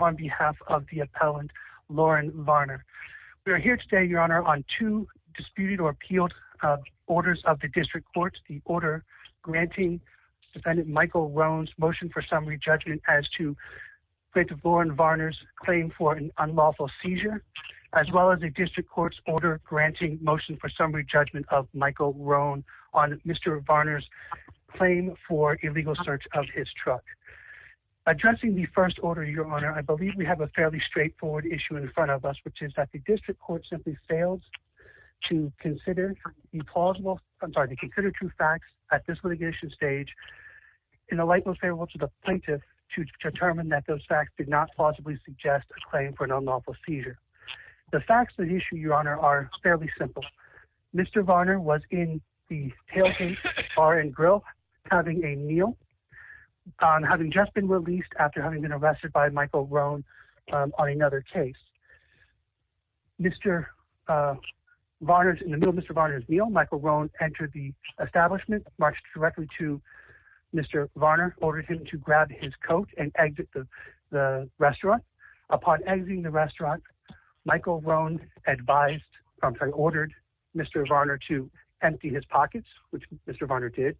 on behalf of the appellant Lauren Varner. We are here today, Your Honor, on two disputed or appealed orders of the District Court. The order granting defendant Michael Roane's motion for summary judgment as to plaintiff Lauren Varner's claim for an unlawful seizure as well as a District Court's order granting motion for summary judgment of Michael Roane on Mr. Varner's claim for illegal search of his truck. Addressing the first order, Your Honor, I believe we have a fairly straightforward issue in front of us, which is that the District Court simply fails to consider the plausible, I'm sorry, the concluded true facts at this litigation stage in the light most favorable to the plaintiff to determine that those facts did not plausibly suggest a claim for an unlawful seizure. The facts of the issue, Your Honor, are fairly simple. Mr. Varner was in the tailgate bar and grill having a meal, having just been released after having been arrested by Michael Roane on another case. Mr. Varner's, in the middle of Mr. Varner's meal, Michael Roane entered the establishment, marched directly to Mr. Varner, ordered him to upon exiting the restaurant, Michael Roane advised, I'm sorry, ordered Mr. Varner to empty his pockets, which Mr. Varner did.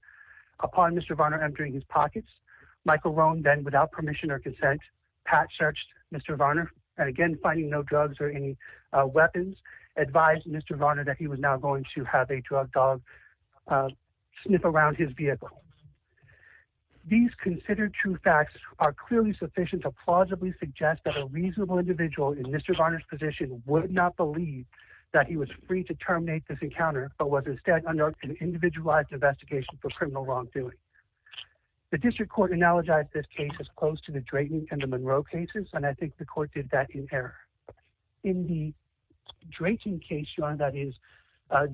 Upon Mr. Varner emptying his pockets, Michael Roane then without permission or consent, pat searched Mr. Varner and again, finding no drugs or any weapons, advised Mr. Varner that he was now going to have a drug dog sniff around his vehicle. These considered true facts are clearly sufficient to plausibly suggest that a reasonable individual in Mr. Varner's position would not believe that he was free to terminate this encounter, but was instead under an individualized investigation for criminal wrongdoing. The district court analogized this case as close to the Drayton and the Monroe cases, and I think the court did that in error. In the Drayton case, Your Honor, that is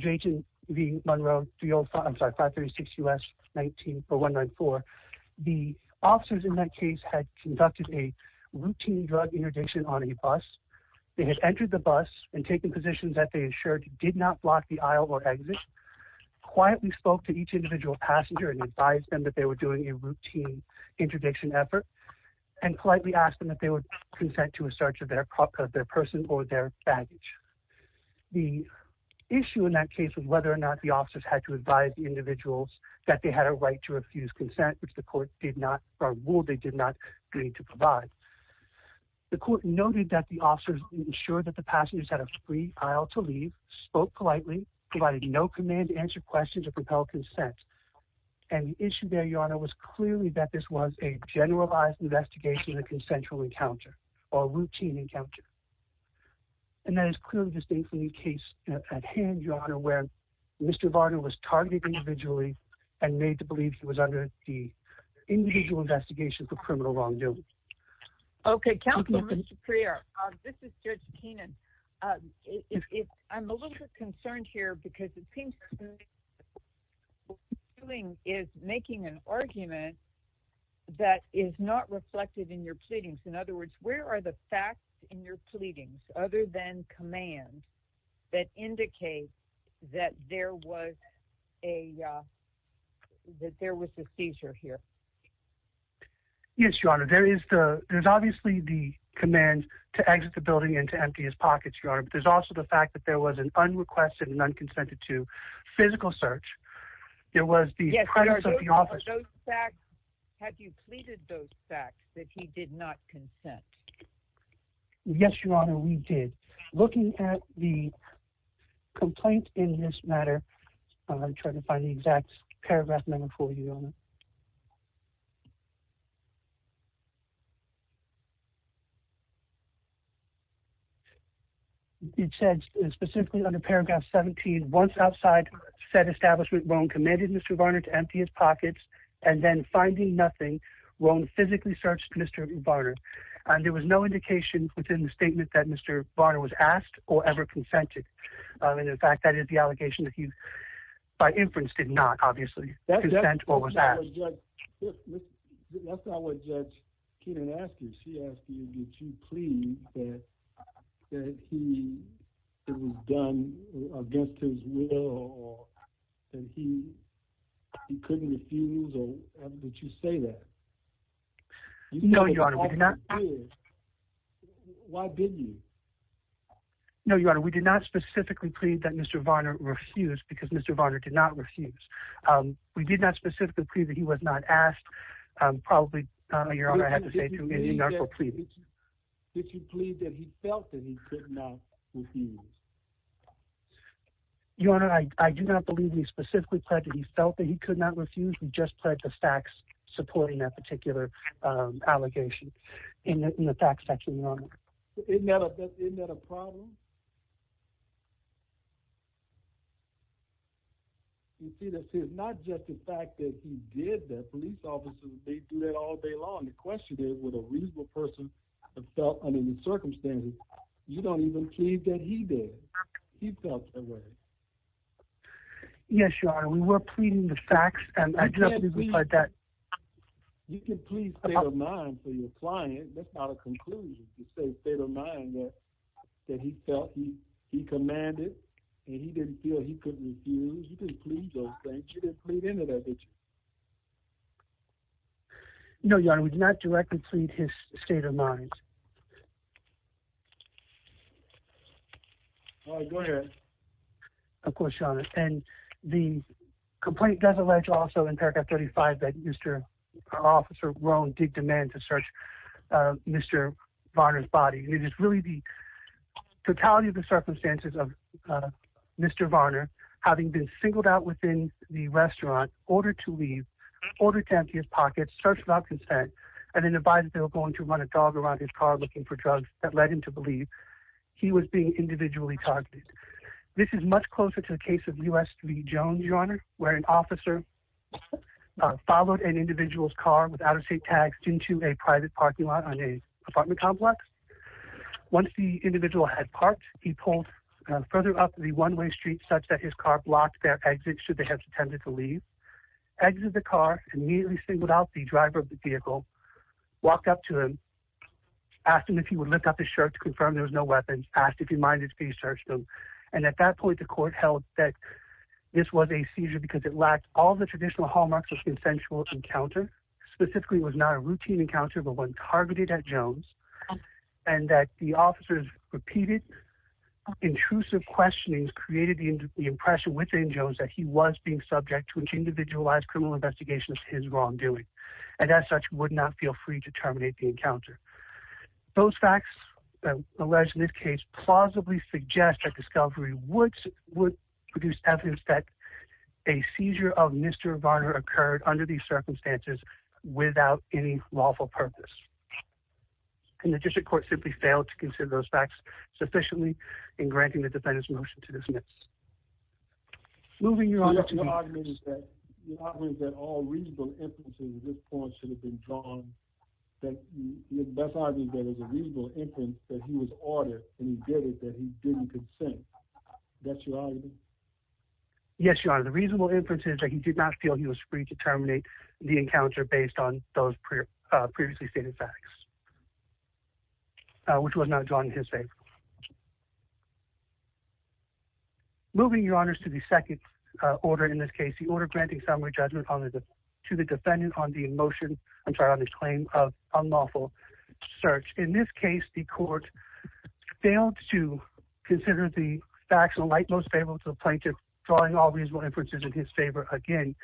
Drayton v. 536 U.S. 194194, the officers in that case had conducted a routine drug interdiction on a bus. They had entered the bus and taken positions that they assured did not block the aisle or exit, quietly spoke to each individual passenger and advised them that they were doing a routine interdiction effort, and politely asked them that they would consent to a search of their person or their baggage. The issue in that case was whether or not the officers had to advise individuals that they had a right to refuse consent, which the court did not, or ruled they did not need to provide. The court noted that the officers ensured that the passengers had a free aisle to leave, spoke politely, provided no command to answer questions or propel consent. And the issue there, Your Honor, was clearly that this was a generalized investigation of a consensual encounter or routine encounter. And that is clearly distinct from the case at hand, where Mr. Varner was targeted individually and made to believe he was under the individual investigation for criminal wrongdoing. Okay. Counselor, Mr. Prierre, this is Judge Keenan. I'm a little bit concerned here because it seems that what you're doing is making an argument that is not reflected in your pleadings. In other words, where are the facts in your pleadings, other than command, that indicate that there was a seizure here? Yes, Your Honor. There's obviously the command to exit the building and to empty his pockets, Your Honor. But there's also the fact that there was an unrequested and unconsented to physical search. There was the presence of the officer. Have you pleaded those facts, that he did not consent? Yes, Your Honor, we did. Looking at the complaint in this matter, I'm trying to find the exact paragraph number for you, Your Honor. It says specifically under paragraph 17, once outside said establishment, Rohn commanded Mr. Varner to empty his pockets. And then finding nothing, Rohn physically searched Mr. Varner. And there was no indication within the statement that Mr. Varner was asked or ever consented. And in fact, that is the allegation that he by inference did not, obviously, consent or was asked. That's not what Judge Keenan asked you. She asked you, did you plead that it was done against his will or that he couldn't refuse? Or would you say that? No, Your Honor, we did not. Why didn't you? No, Your Honor, we did not specifically plead that Mr. Varner refused because Mr. Varner did not refuse. We did not specifically plead that he was not asked. Probably, Your Honor, I have to say that you plead that he felt that he could not refuse. Your Honor, I do not believe we specifically pledged that he felt that he could not refuse. We just pledged the facts supporting that particular allegation in the facts section, Your Honor. Isn't that a problem? You see, this is not just the fact that he did that. Police officers, they do that all day long. The question is, would a reasonable person have felt under the circumstances, you don't even plead that he did. He felt that way. Yes, Your Honor, we were pleading the facts. You can plead state of mind for your client. That's not a conclusion. You say state of mind that he felt he commanded and he didn't feel he couldn't refuse. He didn't plead those things. You didn't plead any of that, did you? No, Your Honor, we did not directly plead his state of mind. All right, go ahead. Of course, Your Honor, and the complaint does allege also in paragraph 35 that Mr. Officer Roan did demand to search Mr. Varner's body. It is really the totality of the circumstances of Mr. Varner having been singled out within the restaurant, ordered to leave, ordered to empty his pockets, searched without consent, and then advised they were going to run a dog around his car looking for drugs that led him to believe he was being individually targeted. This is much closer to the case of US v. Jones, Your Honor, where an officer followed an individual's car with out-of-state tags into a private parking lot on a apartment complex. Once the individual had parked, he pulled further up the one-way street such that his car blocked their exit should they have intended to leave, exited the car, immediately singled out the driver of the vehicle, walked up to him, asked him if he would lift up his shirt to confirm there was no weapons, asked if he minded if he searched him, and at that point, the court held that this was a seizure because it lacked all the traditional hallmarks of consensual encounter. Specifically, it was not a routine encounter, but one targeted at Jones, and that the officer's repeated intrusive questionings created the impression within Jones that he was being subject to an individualized criminal investigation of his wrongdoing and as such would not feel free to terminate the encounter. Those facts alleged in this case plausibly suggest that discovery would produce evidence that a seizure of Mr. Varner occurred under these circumstances without any lawful purpose, and the district court simply failed to consider those facts sufficiently in granting the defendant's motion to dismiss. Moving your honor to me. Your argument is that all reasonable inferences at this point should have been drawn that that's not even there was a reasonable inference that he was ordered and he did it that he didn't consent. That's your argument? Yes, your honor. The reasonable inference is that he did not feel he was free to terminate the encounter based on those previously stated facts, which was not drawn in his favor. Moving your honors to the second order in this case, the order granting summary judgment to the defendant on the motion, I'm sorry, on this claim of unlawful search. In this case, the court failed to consider the facts of the light most favorable to the plaintiff, drawing all reasonable inferences in his favor again,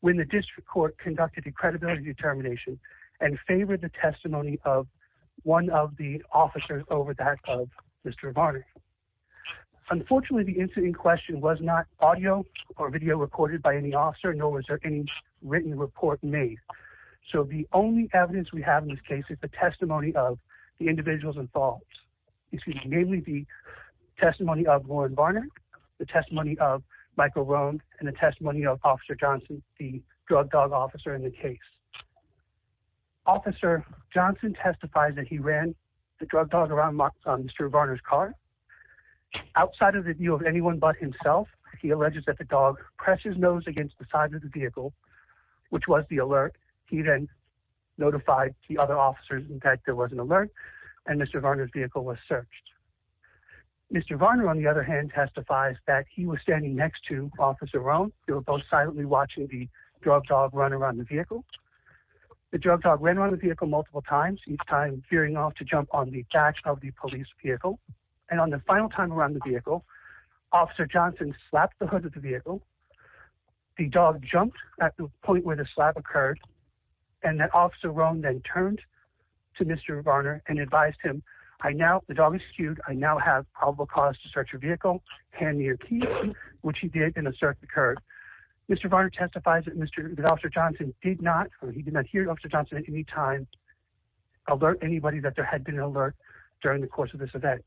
when the district court conducted a credibility determination and favored the testimony of one of the officers over that of Mr. Varner. Unfortunately, the incident in question was not audio or video recorded by any officer, nor was there any written report made. So the only evidence we have in this case is the testimony of the individuals involved, excuse me, namely the testimony of Lauren Varner, the testimony of Michael Roan, and the testimony of officer Johnson, the drug dog officer in the case. Officer Johnson testifies that he ran the drug dog around Mr. Varner's car. Outside of the view of anyone but himself, he alleges that the dog pressed his nose against the side of the vehicle, which was the alert. He then notified the other officers, in fact, there was an alert and Mr. Varner's vehicle was searched. Mr. Varner, on the other hand, testifies that he was standing next to officer Roan. They were both silently watching the drug dog run around the vehicle. The drug dog ran around the vehicle multiple times, each time gearing off to jump on the back of the police vehicle. And on the final time around the vehicle, officer Johnson slapped the hood of the vehicle. The dog jumped at the point where the slap occurred, and that officer Roan then turned to Mr. Varner and advised him, I now, the dog is skewed, I now have probable cause to search your vehicle, hand me your keys, which he did and a search occurred. Mr. Varner testifies that officer Johnson did not, he did not hear officer Johnson at any time alert anybody that there had been an alert during the course of this event.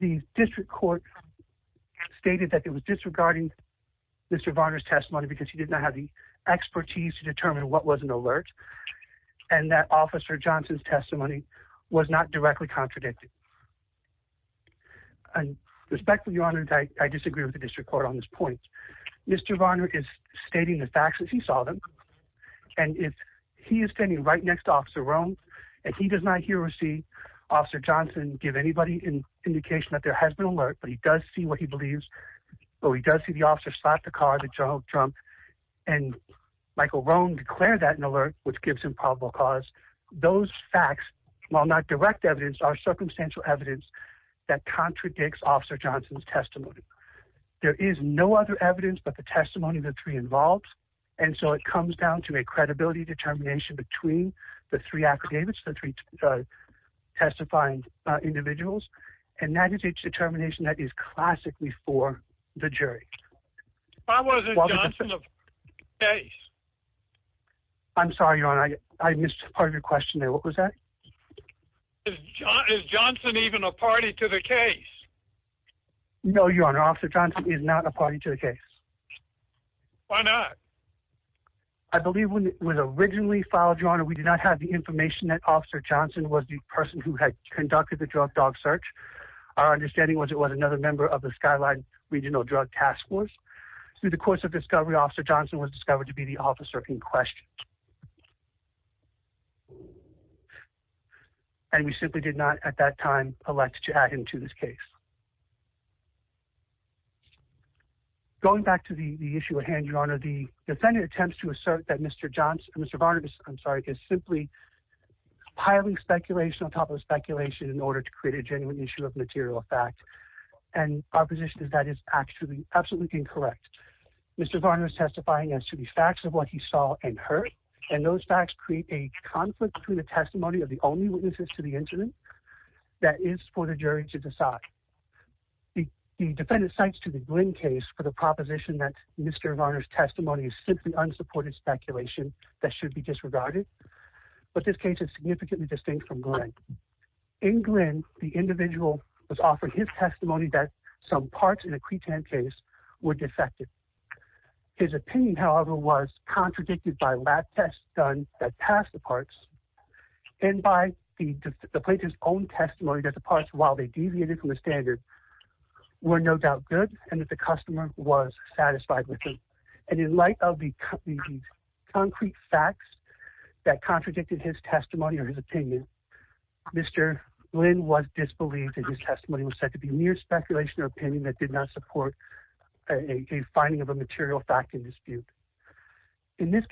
The district court stated that it was disregarding Mr. Varner's testimony because he did not have the expertise to determine what was an alert and that officer Johnson's testimony was not directly contradicted. And respectfully, your honor, I disagree with the district court on this point. Mr. Varner is stating the facts as he saw them. And if he is standing right next to officer Roan and he does not hear or see officer Johnson, give anybody in indication that there has been alert, but he does see what he believes, but he does see the officer slapped the car, the dog jumped and Michael Roan declared that in alert, which gives him probable cause those facts, while not direct evidence are circumstantial evidence that contradicts officer Johnson's testimony. There is no other evidence, but the testimony of the three involved. And so it comes down to a credibility determination between the three affidavits, the three testifying individuals. And that is each determination that is classically for the jury. I'm sorry, your honor. I missed part of your question there. What was that? Is Johnson even a party to the case? No, your honor. Officer Johnson is not a party to the case. Why not? I believe when it was originally filed, your honor, we did not have the information that officer Johnson was the person who had conducted the drug dog search. Our understanding was it was another member of the skyline regional drug task force. So the course of discovery officer Johnson was discovered to be the officer in question. And we simply did not at that time elect to add to this case. Going back to the issue at hand, your honor, the defendant attempts to assert that Mr. Johnson, Mr. Varner, I'm sorry, is simply piling speculation on top of speculation in order to create a genuine issue of material fact. And our position is that is actually absolutely incorrect. Mr. Varner is testifying as to the facts of what he saw and heard. And those facts create a conflict between the testimony of the only witnesses to the incident that is for the jury to decide. The defendant cites to the Glynn case for the proposition that Mr. Varner's testimony is simply unsupported speculation that should be disregarded. But this case is significantly distinct from Glynn. In Glynn, the individual was offered his testimony that some parts in a Cretan case were defective. His opinion, however, was his own testimony that the parts while they deviated from the standard were no doubt good and that the customer was satisfied with him. And in light of the concrete facts that contradicted his testimony or his opinion, Mr. Glynn was disbelieved that his testimony was said to be mere speculation or opinion that did not support a finding of a material fact in dispute. In this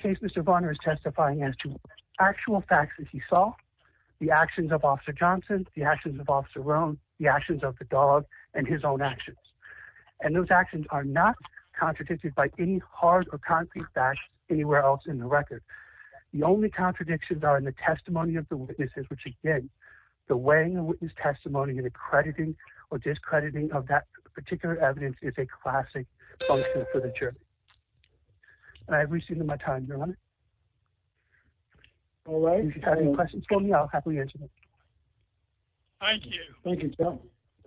the actions of officer Rome, the actions of the dog and his own actions. And those actions are not contradicted by any hard or concrete facts anywhere else in the record. The only contradictions are in the testimony of the witnesses, which again, the weighing of witness testimony and accrediting or discrediting of that particular evidence is a classic function for the jury. I've reached the end of my time, Your Honor. All right. If you have any questions for me, I'll happily answer them. Thank you. Thank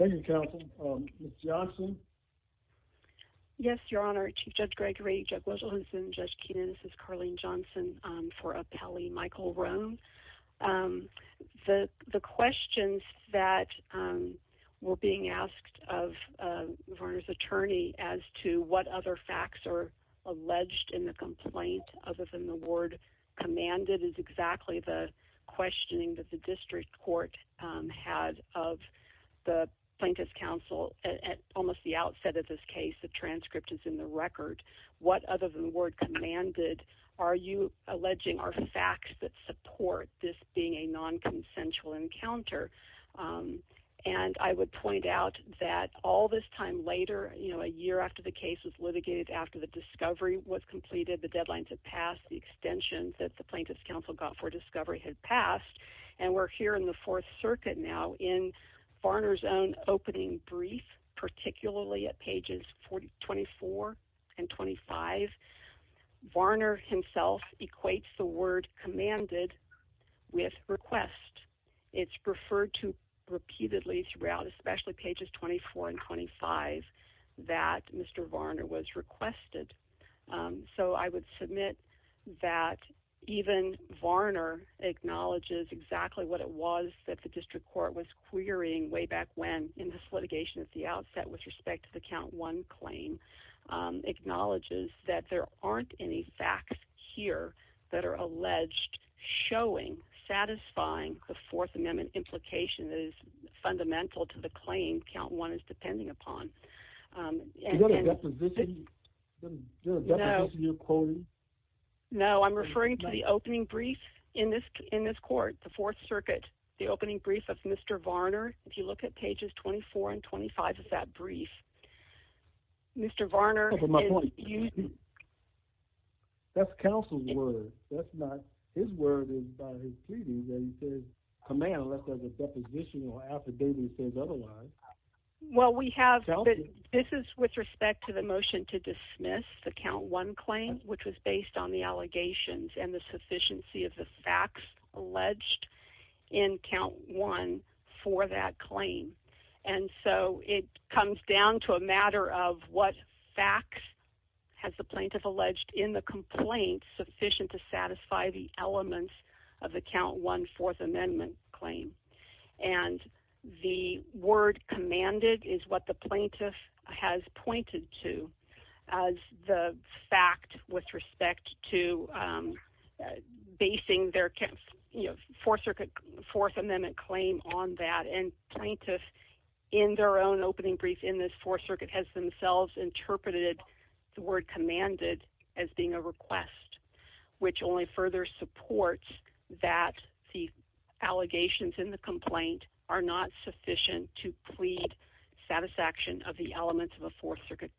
you, counsel. Ms. Johnson. Yes, Your Honor. Chief Judge Gregory, Judge Wetzel-Hinson, Judge Keenan. This is Carlene Johnson for appellee Michael Rome. The questions that were being asked of the attorney as to what other facts are alleged in the complaint other than the word commanded is exactly the questioning that the district court had of the plaintiff's counsel at almost the outset of this case. The transcript is in the record. What other than the word commanded are you alleging are facts that support this being a non-consensual encounter? And I would point out that all this time later, a year after the case was litigated, after the discovery was completed, the deadlines had passed, the extension that the plaintiff's counsel got for discovery had passed. And we're here in the Fourth Circuit now in Varner's own opening brief, particularly at pages 24 and 25. Varner himself equates the word commanded with request. It's referred to that Mr. Varner was requested. So I would submit that even Varner acknowledges exactly what it was that the district court was querying way back when in this litigation at the outset with respect to the count one claim, acknowledges that there aren't any facts here that are alleged showing, satisfying the Fourth Amendment implication that is fundamental to the claim count one is going to deposition. No, I'm referring to the opening brief in this, in this court, the Fourth Circuit, the opening brief of Mr. Varner. If you look at pages 24 and 25 of that brief, Mr. Varner, that's counsel's word. That's not his word is by his pleading that he says command unless there's a deposition or affidavit says otherwise. Well, we have, this is with respect to the motion to dismiss the count one claim, which was based on the allegations and the sufficiency of the facts alleged in count one for that claim. And so it comes down to a matter of what facts has the plaintiff alleged in the claim. And the word commanded is what the plaintiff has pointed to as the fact with respect to basing their camp, you know, Fourth Circuit Fourth Amendment claim on that. And plaintiff in their own opening brief in this Fourth Circuit has themselves interpreted the word commanded as being a request, which only further supports that the allegations in the complaint are not sufficient to plead satisfaction of the elements of a Fourth Circuit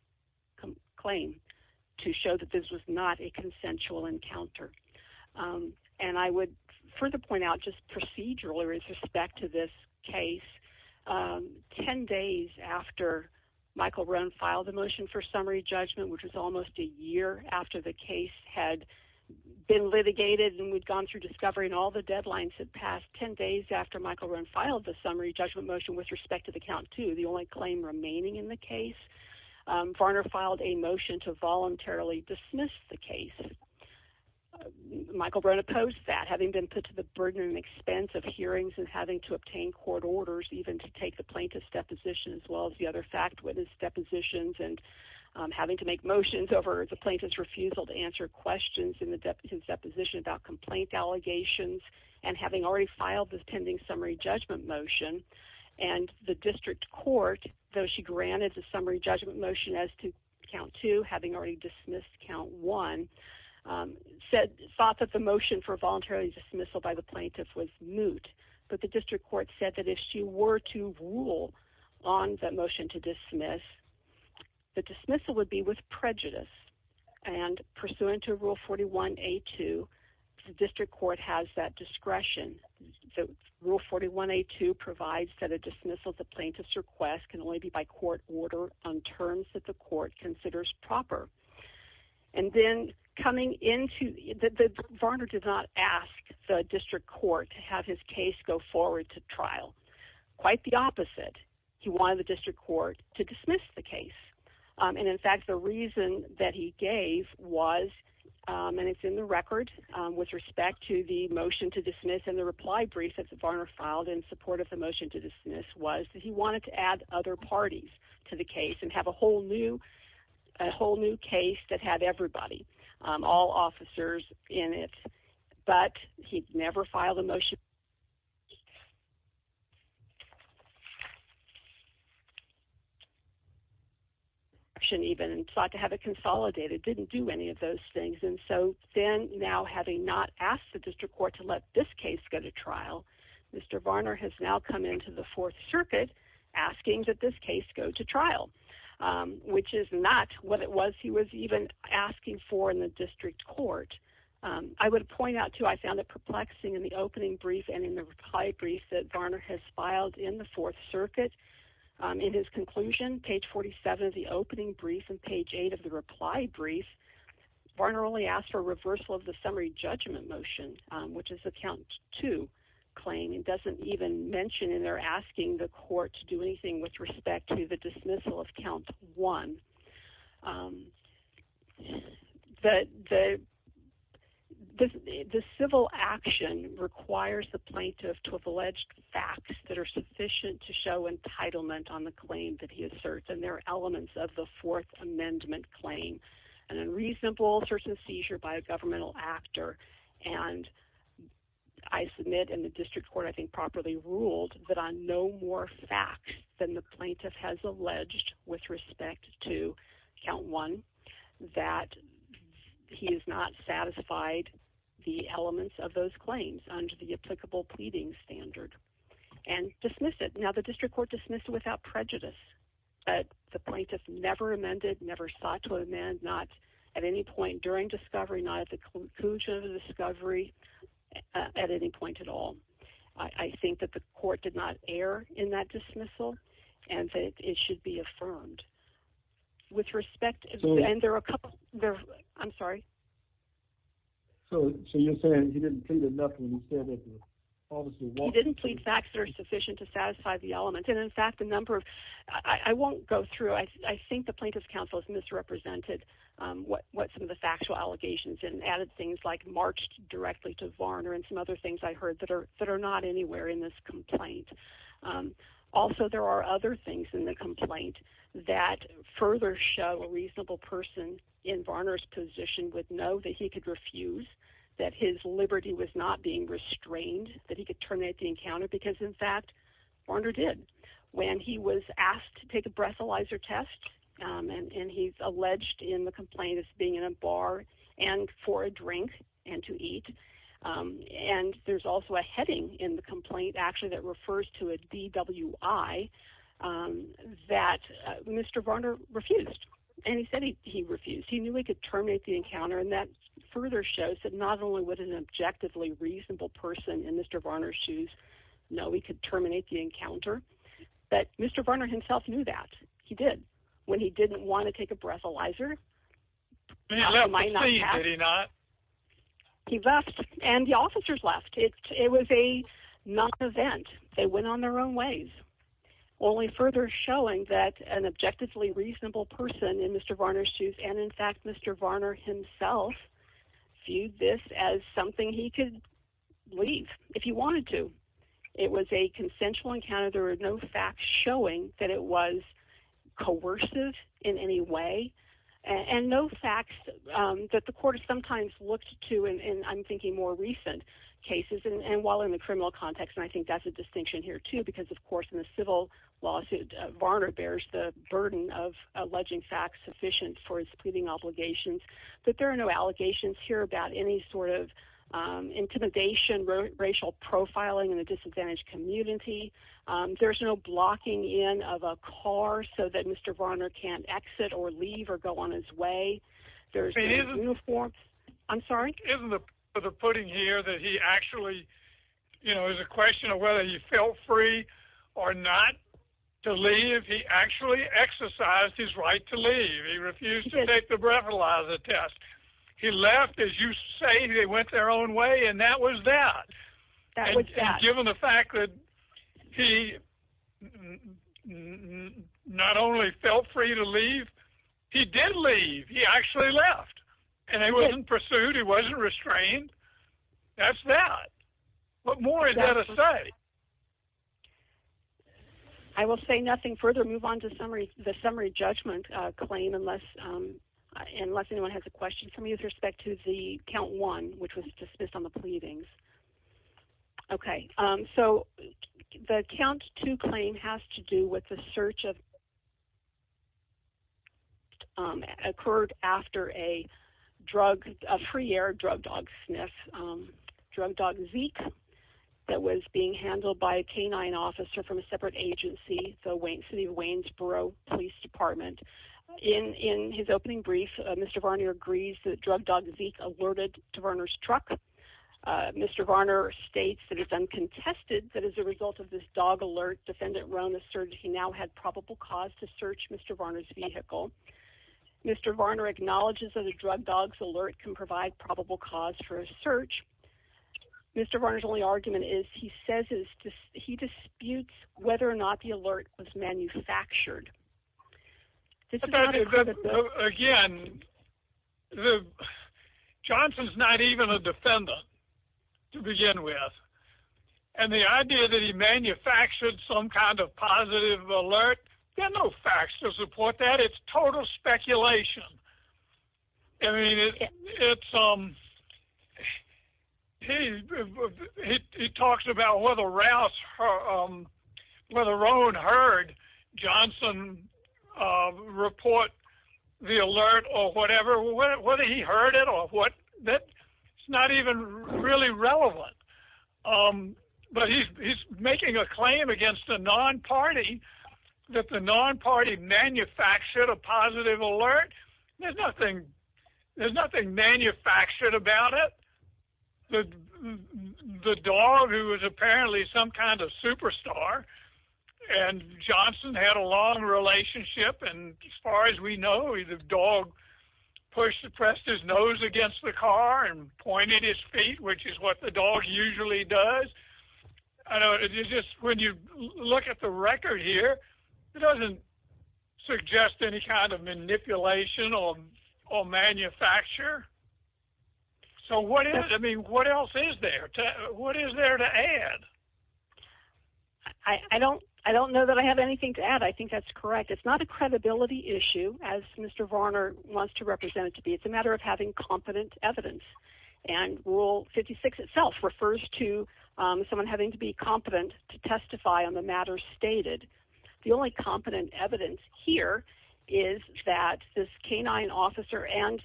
claim to show that this was not a consensual encounter. And I would further point out just procedurally with respect to this case, 10 days after Michael Rohn filed the motion for summary judgment, which was almost a year after the case had been litigated and we'd gone through discovery and all the deadlines had passed 10 days after Michael Rohn filed the summary judgment motion with respect to the count two, the only claim remaining in the case. Varner filed a motion to voluntarily dismiss the case. Michael Rohn opposed that having been put to the burden and expense of hearings and having to obtain court orders, even to take the plaintiff's deposition as well as the other witness depositions and having to make motions over the plaintiff's refusal to answer questions in the deposition about complaint allegations and having already filed this pending summary judgment motion and the district court, though she granted the summary judgment motion as to count two, having already dismissed count one, thought that the motion for voluntarily dismissal by the plaintiff was moot. But the district court said that if she were to rule on that motion to dismiss, the dismissal would be with prejudice and pursuant to rule 41A2, the district court has that discretion. So rule 41A2 provides that a dismissal of the plaintiff's request can only be by court order on terms that the court considers proper. And then coming into, Varner did not ask the district court to have his case go forward to trial. Quite the opposite. He wanted the district court to dismiss the case. And in fact, the reason that he gave was, and it's in the record with respect to the motion to dismiss and the reply brief that Varner filed in support of the motion to dismiss was that he wanted to add other parties to the case and have a whole new, a whole new case that had everybody, all officers in it, but he'd never filed a motion. He sought to have it consolidated, didn't do any of those things. And so then now having not asked the district court to let this case go to trial, Mr. Varner has now come into the fourth circuit asking that this case go to trial, which is not what it was he was even asking for in the district court. I would point out too, I found it perplexing in the opening brief and in the reply brief that Varner has filed in the fourth circuit. In his conclusion, page 47 of the opening brief and page eight of the reply brief, Varner only asked for reversal of the summary judgment motion, which is a count two claim. It doesn't even mention in there asking the court to do anything with respect to the dismissal of count one. The civil action requires the plaintiff to have alleged facts that are sufficient to show entitlement on the claim that he asserts. And there are elements of the fourth amendment claim and a reasonable search and seizure by a governmental actor. And I submit in the district court, I think properly ruled that on no more facts than the plaintiff has alleged with respect to count one, that he has not satisfied the elements of those claims under the applicable pleading standard and dismiss it. Now the district court dismissed it without prejudice. The plaintiff never amended, never sought to amend, not at any point during discovery, not at the conclusion of the discovery, at any point at all. I think that the and that it should be affirmed with respect. And there are a couple there. I'm sorry. So, so you're saying he didn't plead enough when he said that. He didn't plead facts that are sufficient to satisfy the element. And in fact, the number of, I won't go through. I think the plaintiff's counsel has misrepresented what, what some of the factual allegations and added things like marched directly to Varner and some other things I heard that are, that are not anywhere in this complaint. Also, there are other things in the complaint that further show a reasonable person in Varner's position would know that he could refuse that his liberty was not being restrained, that he could turn at the encounter because in fact, Varner did when he was asked to take a breathalyzer test. And he's alleged in the also a heading in the complaint actually that refers to a DWI that Mr. Varner refused. And he said he, he refused. He knew he could terminate the encounter. And that further shows that not only would an objectively reasonable person in Mr. Varner's shoes, no, we could terminate the encounter, but Mr. Varner himself knew that he did when he didn't want to take a breathalyzer. He left the scene, did he not? He left and the officers left it. It was a non-event. They went on their own ways. Only further showing that an objectively reasonable person in Mr. Varner's shoes. And in fact, Mr. Varner himself viewed this as something he could leave if he wanted to. It was a consensual encounter. There were no facts showing that it was coercive in any way and no facts that the court has sometimes looked to. And I'm thinking more recent cases and while in the criminal context, and I think that's a distinction here too, because of course, in the civil lawsuit, Varner bears the burden of alleging facts sufficient for his pleading obligations, but there are no allegations here about any sort of intimidation, racial profiling in the there's no blocking in of a car so that Mr. Varner can't exit or leave or go on his way. There's no uniform. I'm sorry. Isn't the putting here that he actually, you know, is a question of whether he felt free or not to leave. He actually exercised his right to leave. He refused to take the breathalyzer test. He left as you say, they went their own way. And that was that. Given the fact that he not only felt free to leave, he did leave, he actually left and he wasn't pursued. He wasn't restrained. That's that. What more is there to say? I will say nothing further. Move on to the summary judgment claim unless anyone has a pleading. Okay. So the count to claim has to do with the search of occurred after a drug, a free air drug dog sniff drug dog Zeke that was being handled by a canine officer from a separate agency. So Wayne city of Waynesboro police department in, in his opening brief, Mr. Varney agrees that drug dog Zeke alerted to Verner's truck. Mr. Varner states that it's uncontested that as a result of this dog alert, defendant Rhona search, he now had probable cause to search Mr. Varner's vehicle. Mr. Varner acknowledges that a drug dogs alert can provide probable cause for a search. Mr. Varner's only argument is he says is he disputes whether or not the alert was manufactured. Again, the Johnson's not even a defendant to begin with. And the idea that he manufactured some kind of positive alert, there are no facts to support that. It's total speculation. I mean, it's, um, he talks about whether Rouse, whether Rowan heard Johnson report the alert or whatever, whether he heard it or what that it's not even really relevant. But he's making a claim against the non-party that the non-party manufactured a positive alert. There's nothing, there's nothing manufactured about it. The, the dog who was apparently some kind of superstar and Johnson had a long relationship. And as far as we know, he's a dog push suppressed his nose against the look at the record here. It doesn't suggest any kind of manipulation or, or manufacture. So what is, I mean, what else is there? What is there to add? I don't, I don't know that I have anything to add. I think that's correct. It's not a credibility issue as Mr. Varner wants to represent it to be. It's a matter of having competent evidence and rule 56 itself refers to someone having to be competent to testify on the matter stated. The only competent evidence here is that this canine officer and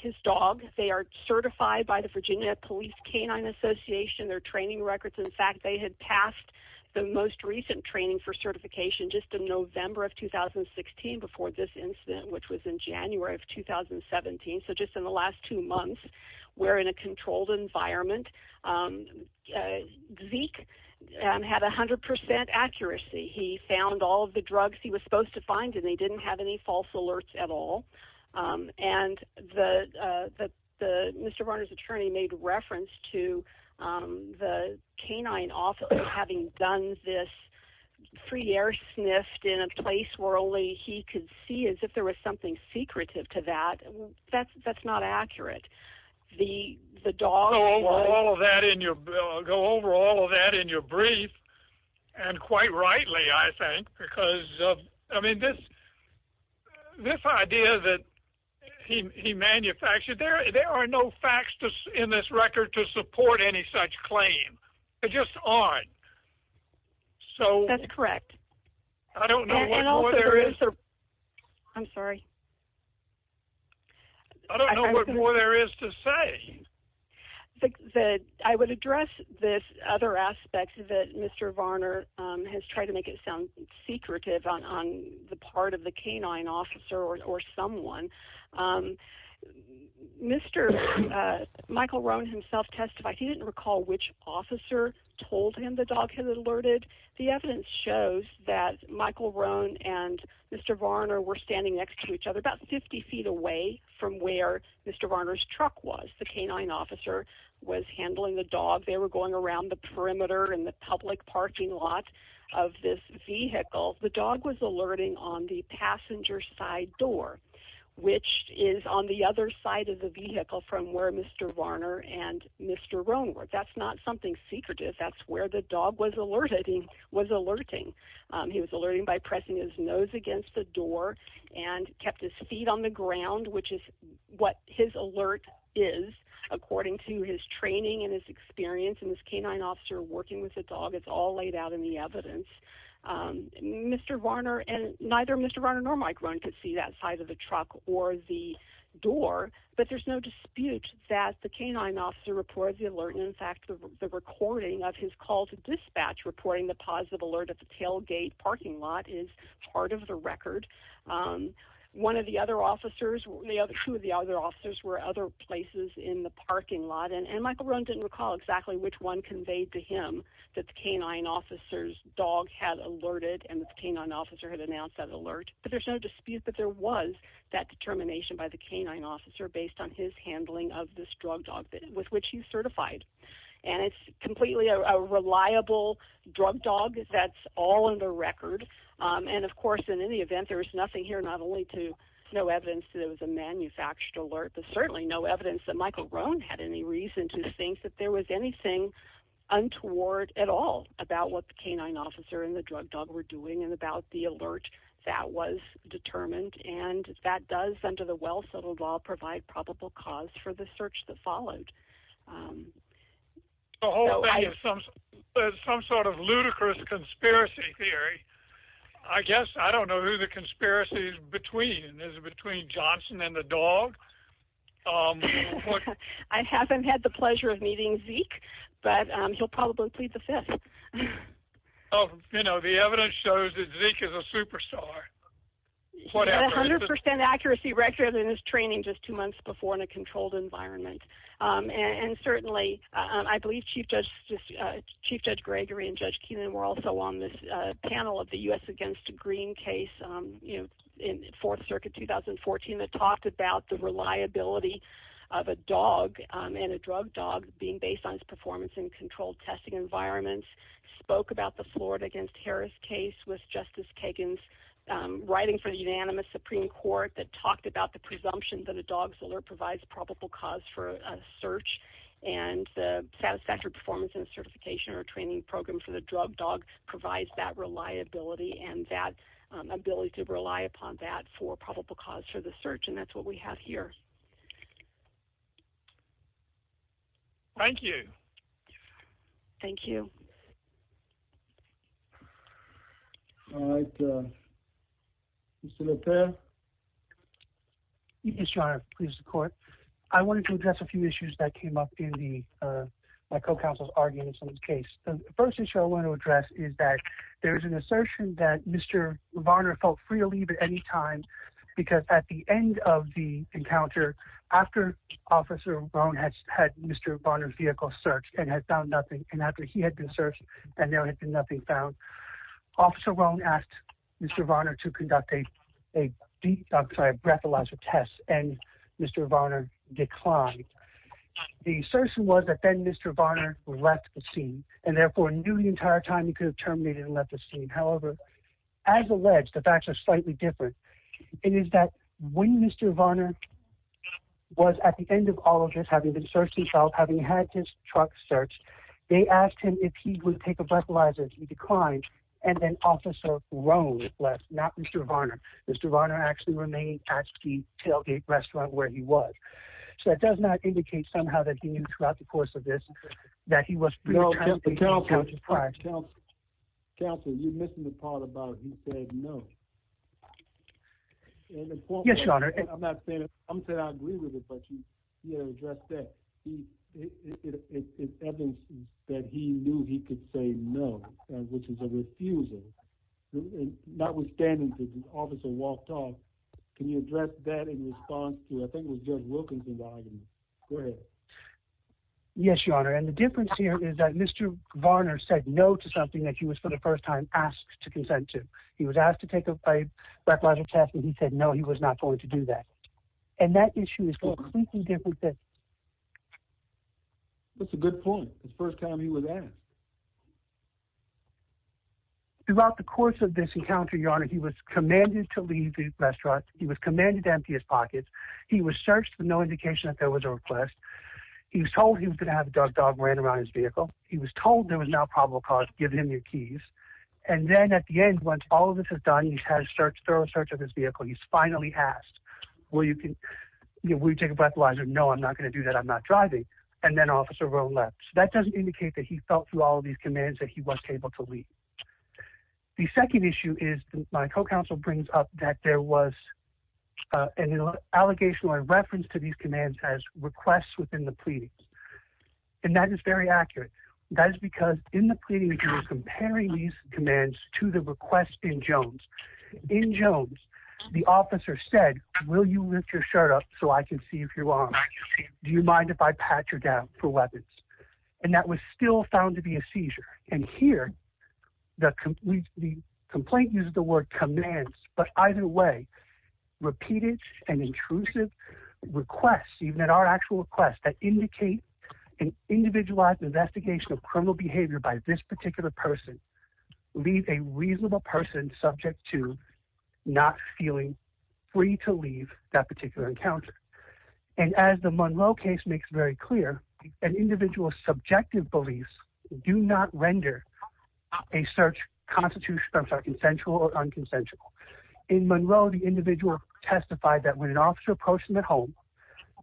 his dog, they are certified by the Virginia police canine association, their training records. In fact, they had passed the most recent training for certification just in November of 2016, before this incident, which was in January of 2017. So just in the last two months, we're in a controlled environment. Zeke had a hundred percent accuracy. He found all of the drugs he was supposed to find and they didn't have any false alerts at all. And the, the, the Mr. Varner's attorney made reference to the canine office, having done this free air sniffed in a place where only he could see as if there was something secretive to that. That's, that's not accurate. The, the dog... Go over all of that in your, go over all of that in your brief. And quite rightly, I think, because of, I mean, this, this idea that he, he manufactured there, there are no facts in this record to support any such claim. They just aren't. So... That's what there is to say. The, the, I would address this other aspect that Mr. Varner has tried to make it sound secretive on, on the part of the canine officer or someone. Mr. Michael Rohn himself testified, he didn't recall which officer told him the dog had alerted. The evidence shows that Michael Rohn and Mr. Varner were standing next to each other, about 50 feet away from where Mr. Varner's truck was. The canine officer was handling the dog. They were going around the perimeter and the public parking lot of this vehicle. The dog was alerting on the passenger side door, which is on the other side of the vehicle from where Mr. Varner and Mr. Rohn were. That's not something secretive. That's where the dog was alerted. He was alerting by pressing his nose against the door and kept his feet on the ground, which is what his alert is according to his training and his experience. And this canine officer working with the dog, it's all laid out in the evidence. Mr. Varner and neither Mr. Varner nor Mike Rohn could see that side of the truck or the door, but there's no dispute that the canine officer reports the alert. And in fact, the recording of his call to dispatch reporting the positive alert at the tailgate parking lot is part of the record. One of the other officers, two of the other officers were other places in the parking lot and Michael Rohn didn't recall exactly which one conveyed to him that the canine officer's dog had alerted and the canine officer had announced that alert. But there's no dispute that there was that determination by the canine officer based on his handling of this drug dog with which he's certified. And it's completely a reliable drug dog that's all in the record. And of course, in any event, there was nothing here, not only to no evidence that it was a manufactured alert, but certainly no evidence that Michael Rohn had any reason to think that there was anything untoward at all about what the canine officer and the drug dog were doing and about the alert that was determined. And that does under the well-settled law provide probable cause for the search that followed. The whole thing is some sort of ludicrous conspiracy theory. I guess I don't know who the conspiracy is between. Is it between Johnson and the dog? I haven't had the pleasure of meeting Zeke, but he'll probably plead the fifth. Oh, you know, the evidence shows that Zeke is a superstar. He had 100% accuracy record in his training just two months before in a controlled environment. And certainly, I believe Chief Judge Gregory and Judge Keenan were also on this panel of the U.S. against Green case in Fourth Circuit 2014 that talked about the reliability of a dog and a drug dog being based on its performance in controlled testing environments, spoke about the Florida against Harris case with Justice Kagan's writing for the unanimous Supreme Court that talked about the presumption that a dog's alert provides probable cause for a search and the satisfactory performance in a certification or training program for the drug dog provides that reliability and that ability to rely upon that for probable cause for the search. And that's what we have here. Thank you. Thank you. All right. Mr. LePere? Yes, Your Honor. Please, the Court. I wanted to address a few issues that came up in the my co-counsel's arguments on this case. The first issue I want to address is that there is an assertion that Mr. Varner felt free to leave at any time because at the end of the encounter, after Officer Rohn had Mr. Varner's vehicle searched and had found nothing, and after he had been searched and there had been nothing found, Officer Rohn asked Mr. Varner to conduct a breathalyzer test and Mr. Varner declined. The assertion was that then Mr. Varner left the scene and therefore knew the entire time he could have terminated and left the scene. However, as alleged, the facts are slightly different. It is that when Mr. Varner was at the end of the search, he felt having had his truck searched, they asked him if he would take a breathalyzer if he declined, and then Officer Rohn left, not Mr. Varner. Mr. Varner actually remained at the Tailgate restaurant where he was. So that does not indicate somehow that he knew throughout the course of this that he was free to terminate. Counsel, you're missing the part about he said no. Yes, Your Honor. I'm not saying I agree with it, but you know, it's evident that he knew he could say no, which is a refusal. Notwithstanding that the officer walked off, can you address that in response to I think it was Judge Wilkinson's argument? Go ahead. Yes, Your Honor, and the difference here is that Mr. Varner said no to something that he was for the first time asked to consent to. He was asked to take a breathalyzer test and he said no, he was not told to do that. And that issue is completely different. That's a good point. It's the first time he was asked. Throughout the course of this encounter, Your Honor, he was commanded to leave the restaurant. He was commanded to empty his pockets. He was searched with no indication that there was a request. He was told he was going to have a dog dog ran around his vehicle. He was told there was no probable cause. Give him your keys. And then at the end, once all of this is done, he's had a thorough search of his vehicle. He's finally asked, will you take a breathalyzer? No, I'm not going to do that. I'm not driving. And then Officer Rowe left. So that doesn't indicate that he felt through all of these commands that he was able to leave. The second issue is my co-counsel brings up that there was an allegation or a reference to these commands as requests within the pleadings. And that is very accurate. That in Jones, the officer said, will you lift your shirt up so I can see if you're wrong? Do you mind if I pat you down for weapons? And that was still found to be a seizure. And here, the complaint uses the word commands, but either way, repeated and intrusive requests, even at our actual request that indicate an individualized investigation of criminal behavior by this particular person, leave a reasonable person subject to not feeling free to leave that particular encounter. And as the Monroe case makes very clear, an individual's subjective beliefs do not render a search constitutional or consensual or unconsensual. In Monroe, the individual testified that when an officer approached him at home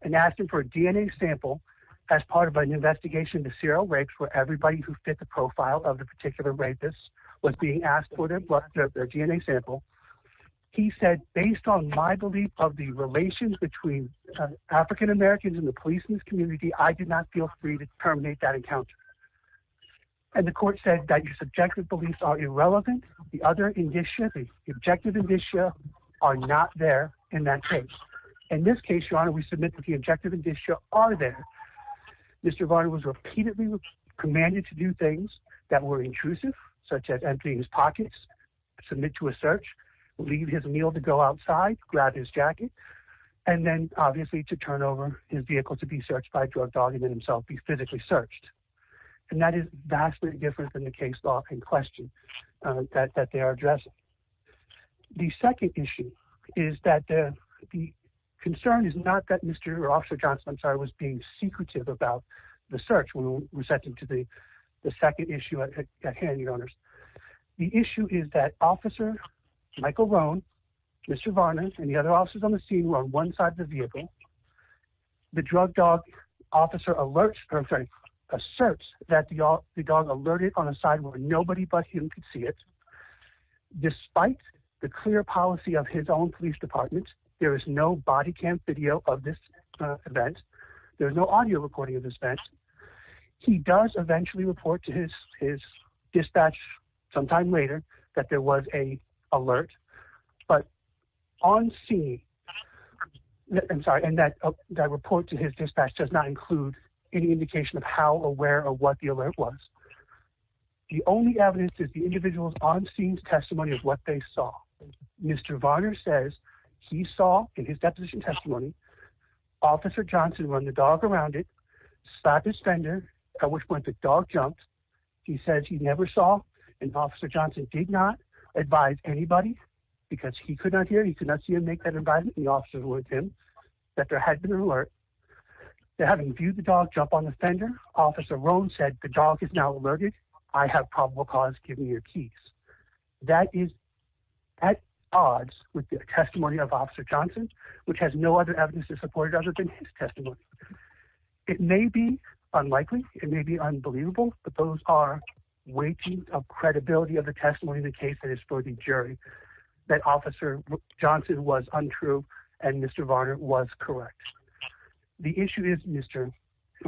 and asked him for a DNA sample as part of an investigation, the serial rapes were everybody who fit the profile of the particular rapist was being asked for their blood, their DNA sample. He said, based on my belief of the relations between African-Americans and the police community, I did not feel free to terminate that encounter. And the court said that your subjective beliefs are irrelevant. The other in this shipping objective in this show are not there in that case. In this case, your honor, we submit that the objective and this show are there. Mr. Varner was repeatedly commanded to do things that were intrusive, such as emptying his pockets, submit to a search, leave his meal to go outside, grab his jacket, and then obviously to turn over his vehicle to be searched by a drug dog and himself be physically searched. And that is vastly different than the case law in question that they are addressing. The second issue is that the concern is not that Mr. or Officer Johnson, I'm sorry, was being secretive about the search when we sent him to the second issue at hand, your honors. The issue is that Officer Michael Rohn, Mr. Varner, and the other officers on the scene were on one side of the vehicle. The drug dog officer alerts, or I'm sorry, asserts that the dog alerted on a side where nobody but him could see it. Despite the clear policy of his own police department, there is no body cam video of this event. There's no audio recording of this event. He does eventually report to his dispatch sometime later that there was a alert, but on scene, I'm sorry, and that report to his dispatch does not include any indication of how aware or what the alert was. The only evidence is the individual's on-scene testimony of what they saw. Mr. Varner says he saw in his deposition testimony Officer Johnson run the dog around it, slapped his fender, at which point the dog jumped. He says he never saw, and Officer Johnson did not advise anybody because he could not hear, he could not see him make that advisement, the officer alerted him that there had been an alert. Having viewed the dog jump on the fender, Officer Rohn said, the dog is now alerted, I have probable cause, give me your keys. That is at odds with the testimony of Officer Johnson, which has no other evidence to support it other than his testimony. It may be unlikely, it may be unbelievable, but those are weightings of credibility of the testimony of the case that is for the jury that Officer Johnson was untrue and Mr. Varner was correct. The issue is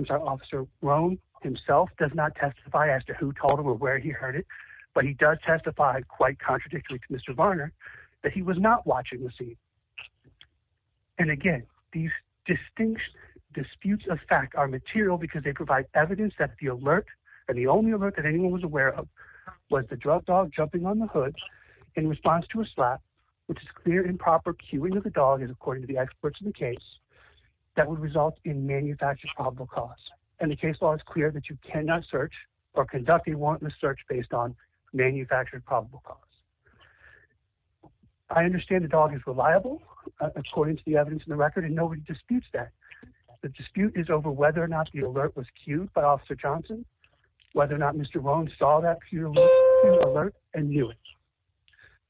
Officer Rohn himself does not testify as to who told him or where he heard it, but he does testify quite contradictory to Mr. Varner that he was not watching the scene. And again, these distinct disputes of fact are material because they provide evidence that the alert, and the only alert that anyone was aware of, was the drug dog according to the experts in the case, that would result in manufactured probable cause. And the case law is clear that you cannot search or conduct a warrantless search based on manufactured probable cause. I understand the dog is reliable according to the evidence in the record and nobody disputes that. The dispute is over whether or not the alert was cued by Officer Johnson, whether or not Mr. Rohn saw that cue alert and knew it.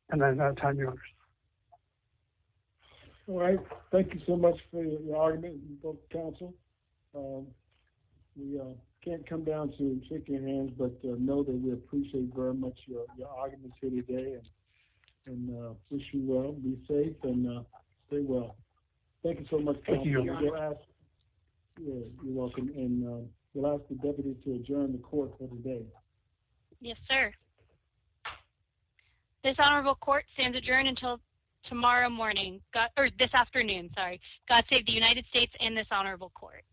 And then I'll time your honors. Thank you so much for your argument counsel. We can't come down to shake your hands, but know that we appreciate very much your arguments here today and wish you well, be safe and stay well. Thank you so much. You're welcome. And we'll ask the deputy to adjourn the court for the day. Yes, sir. This honorable court stands adjourned until tomorrow morning, or this afternoon, sorry. God save the United States and this honorable court.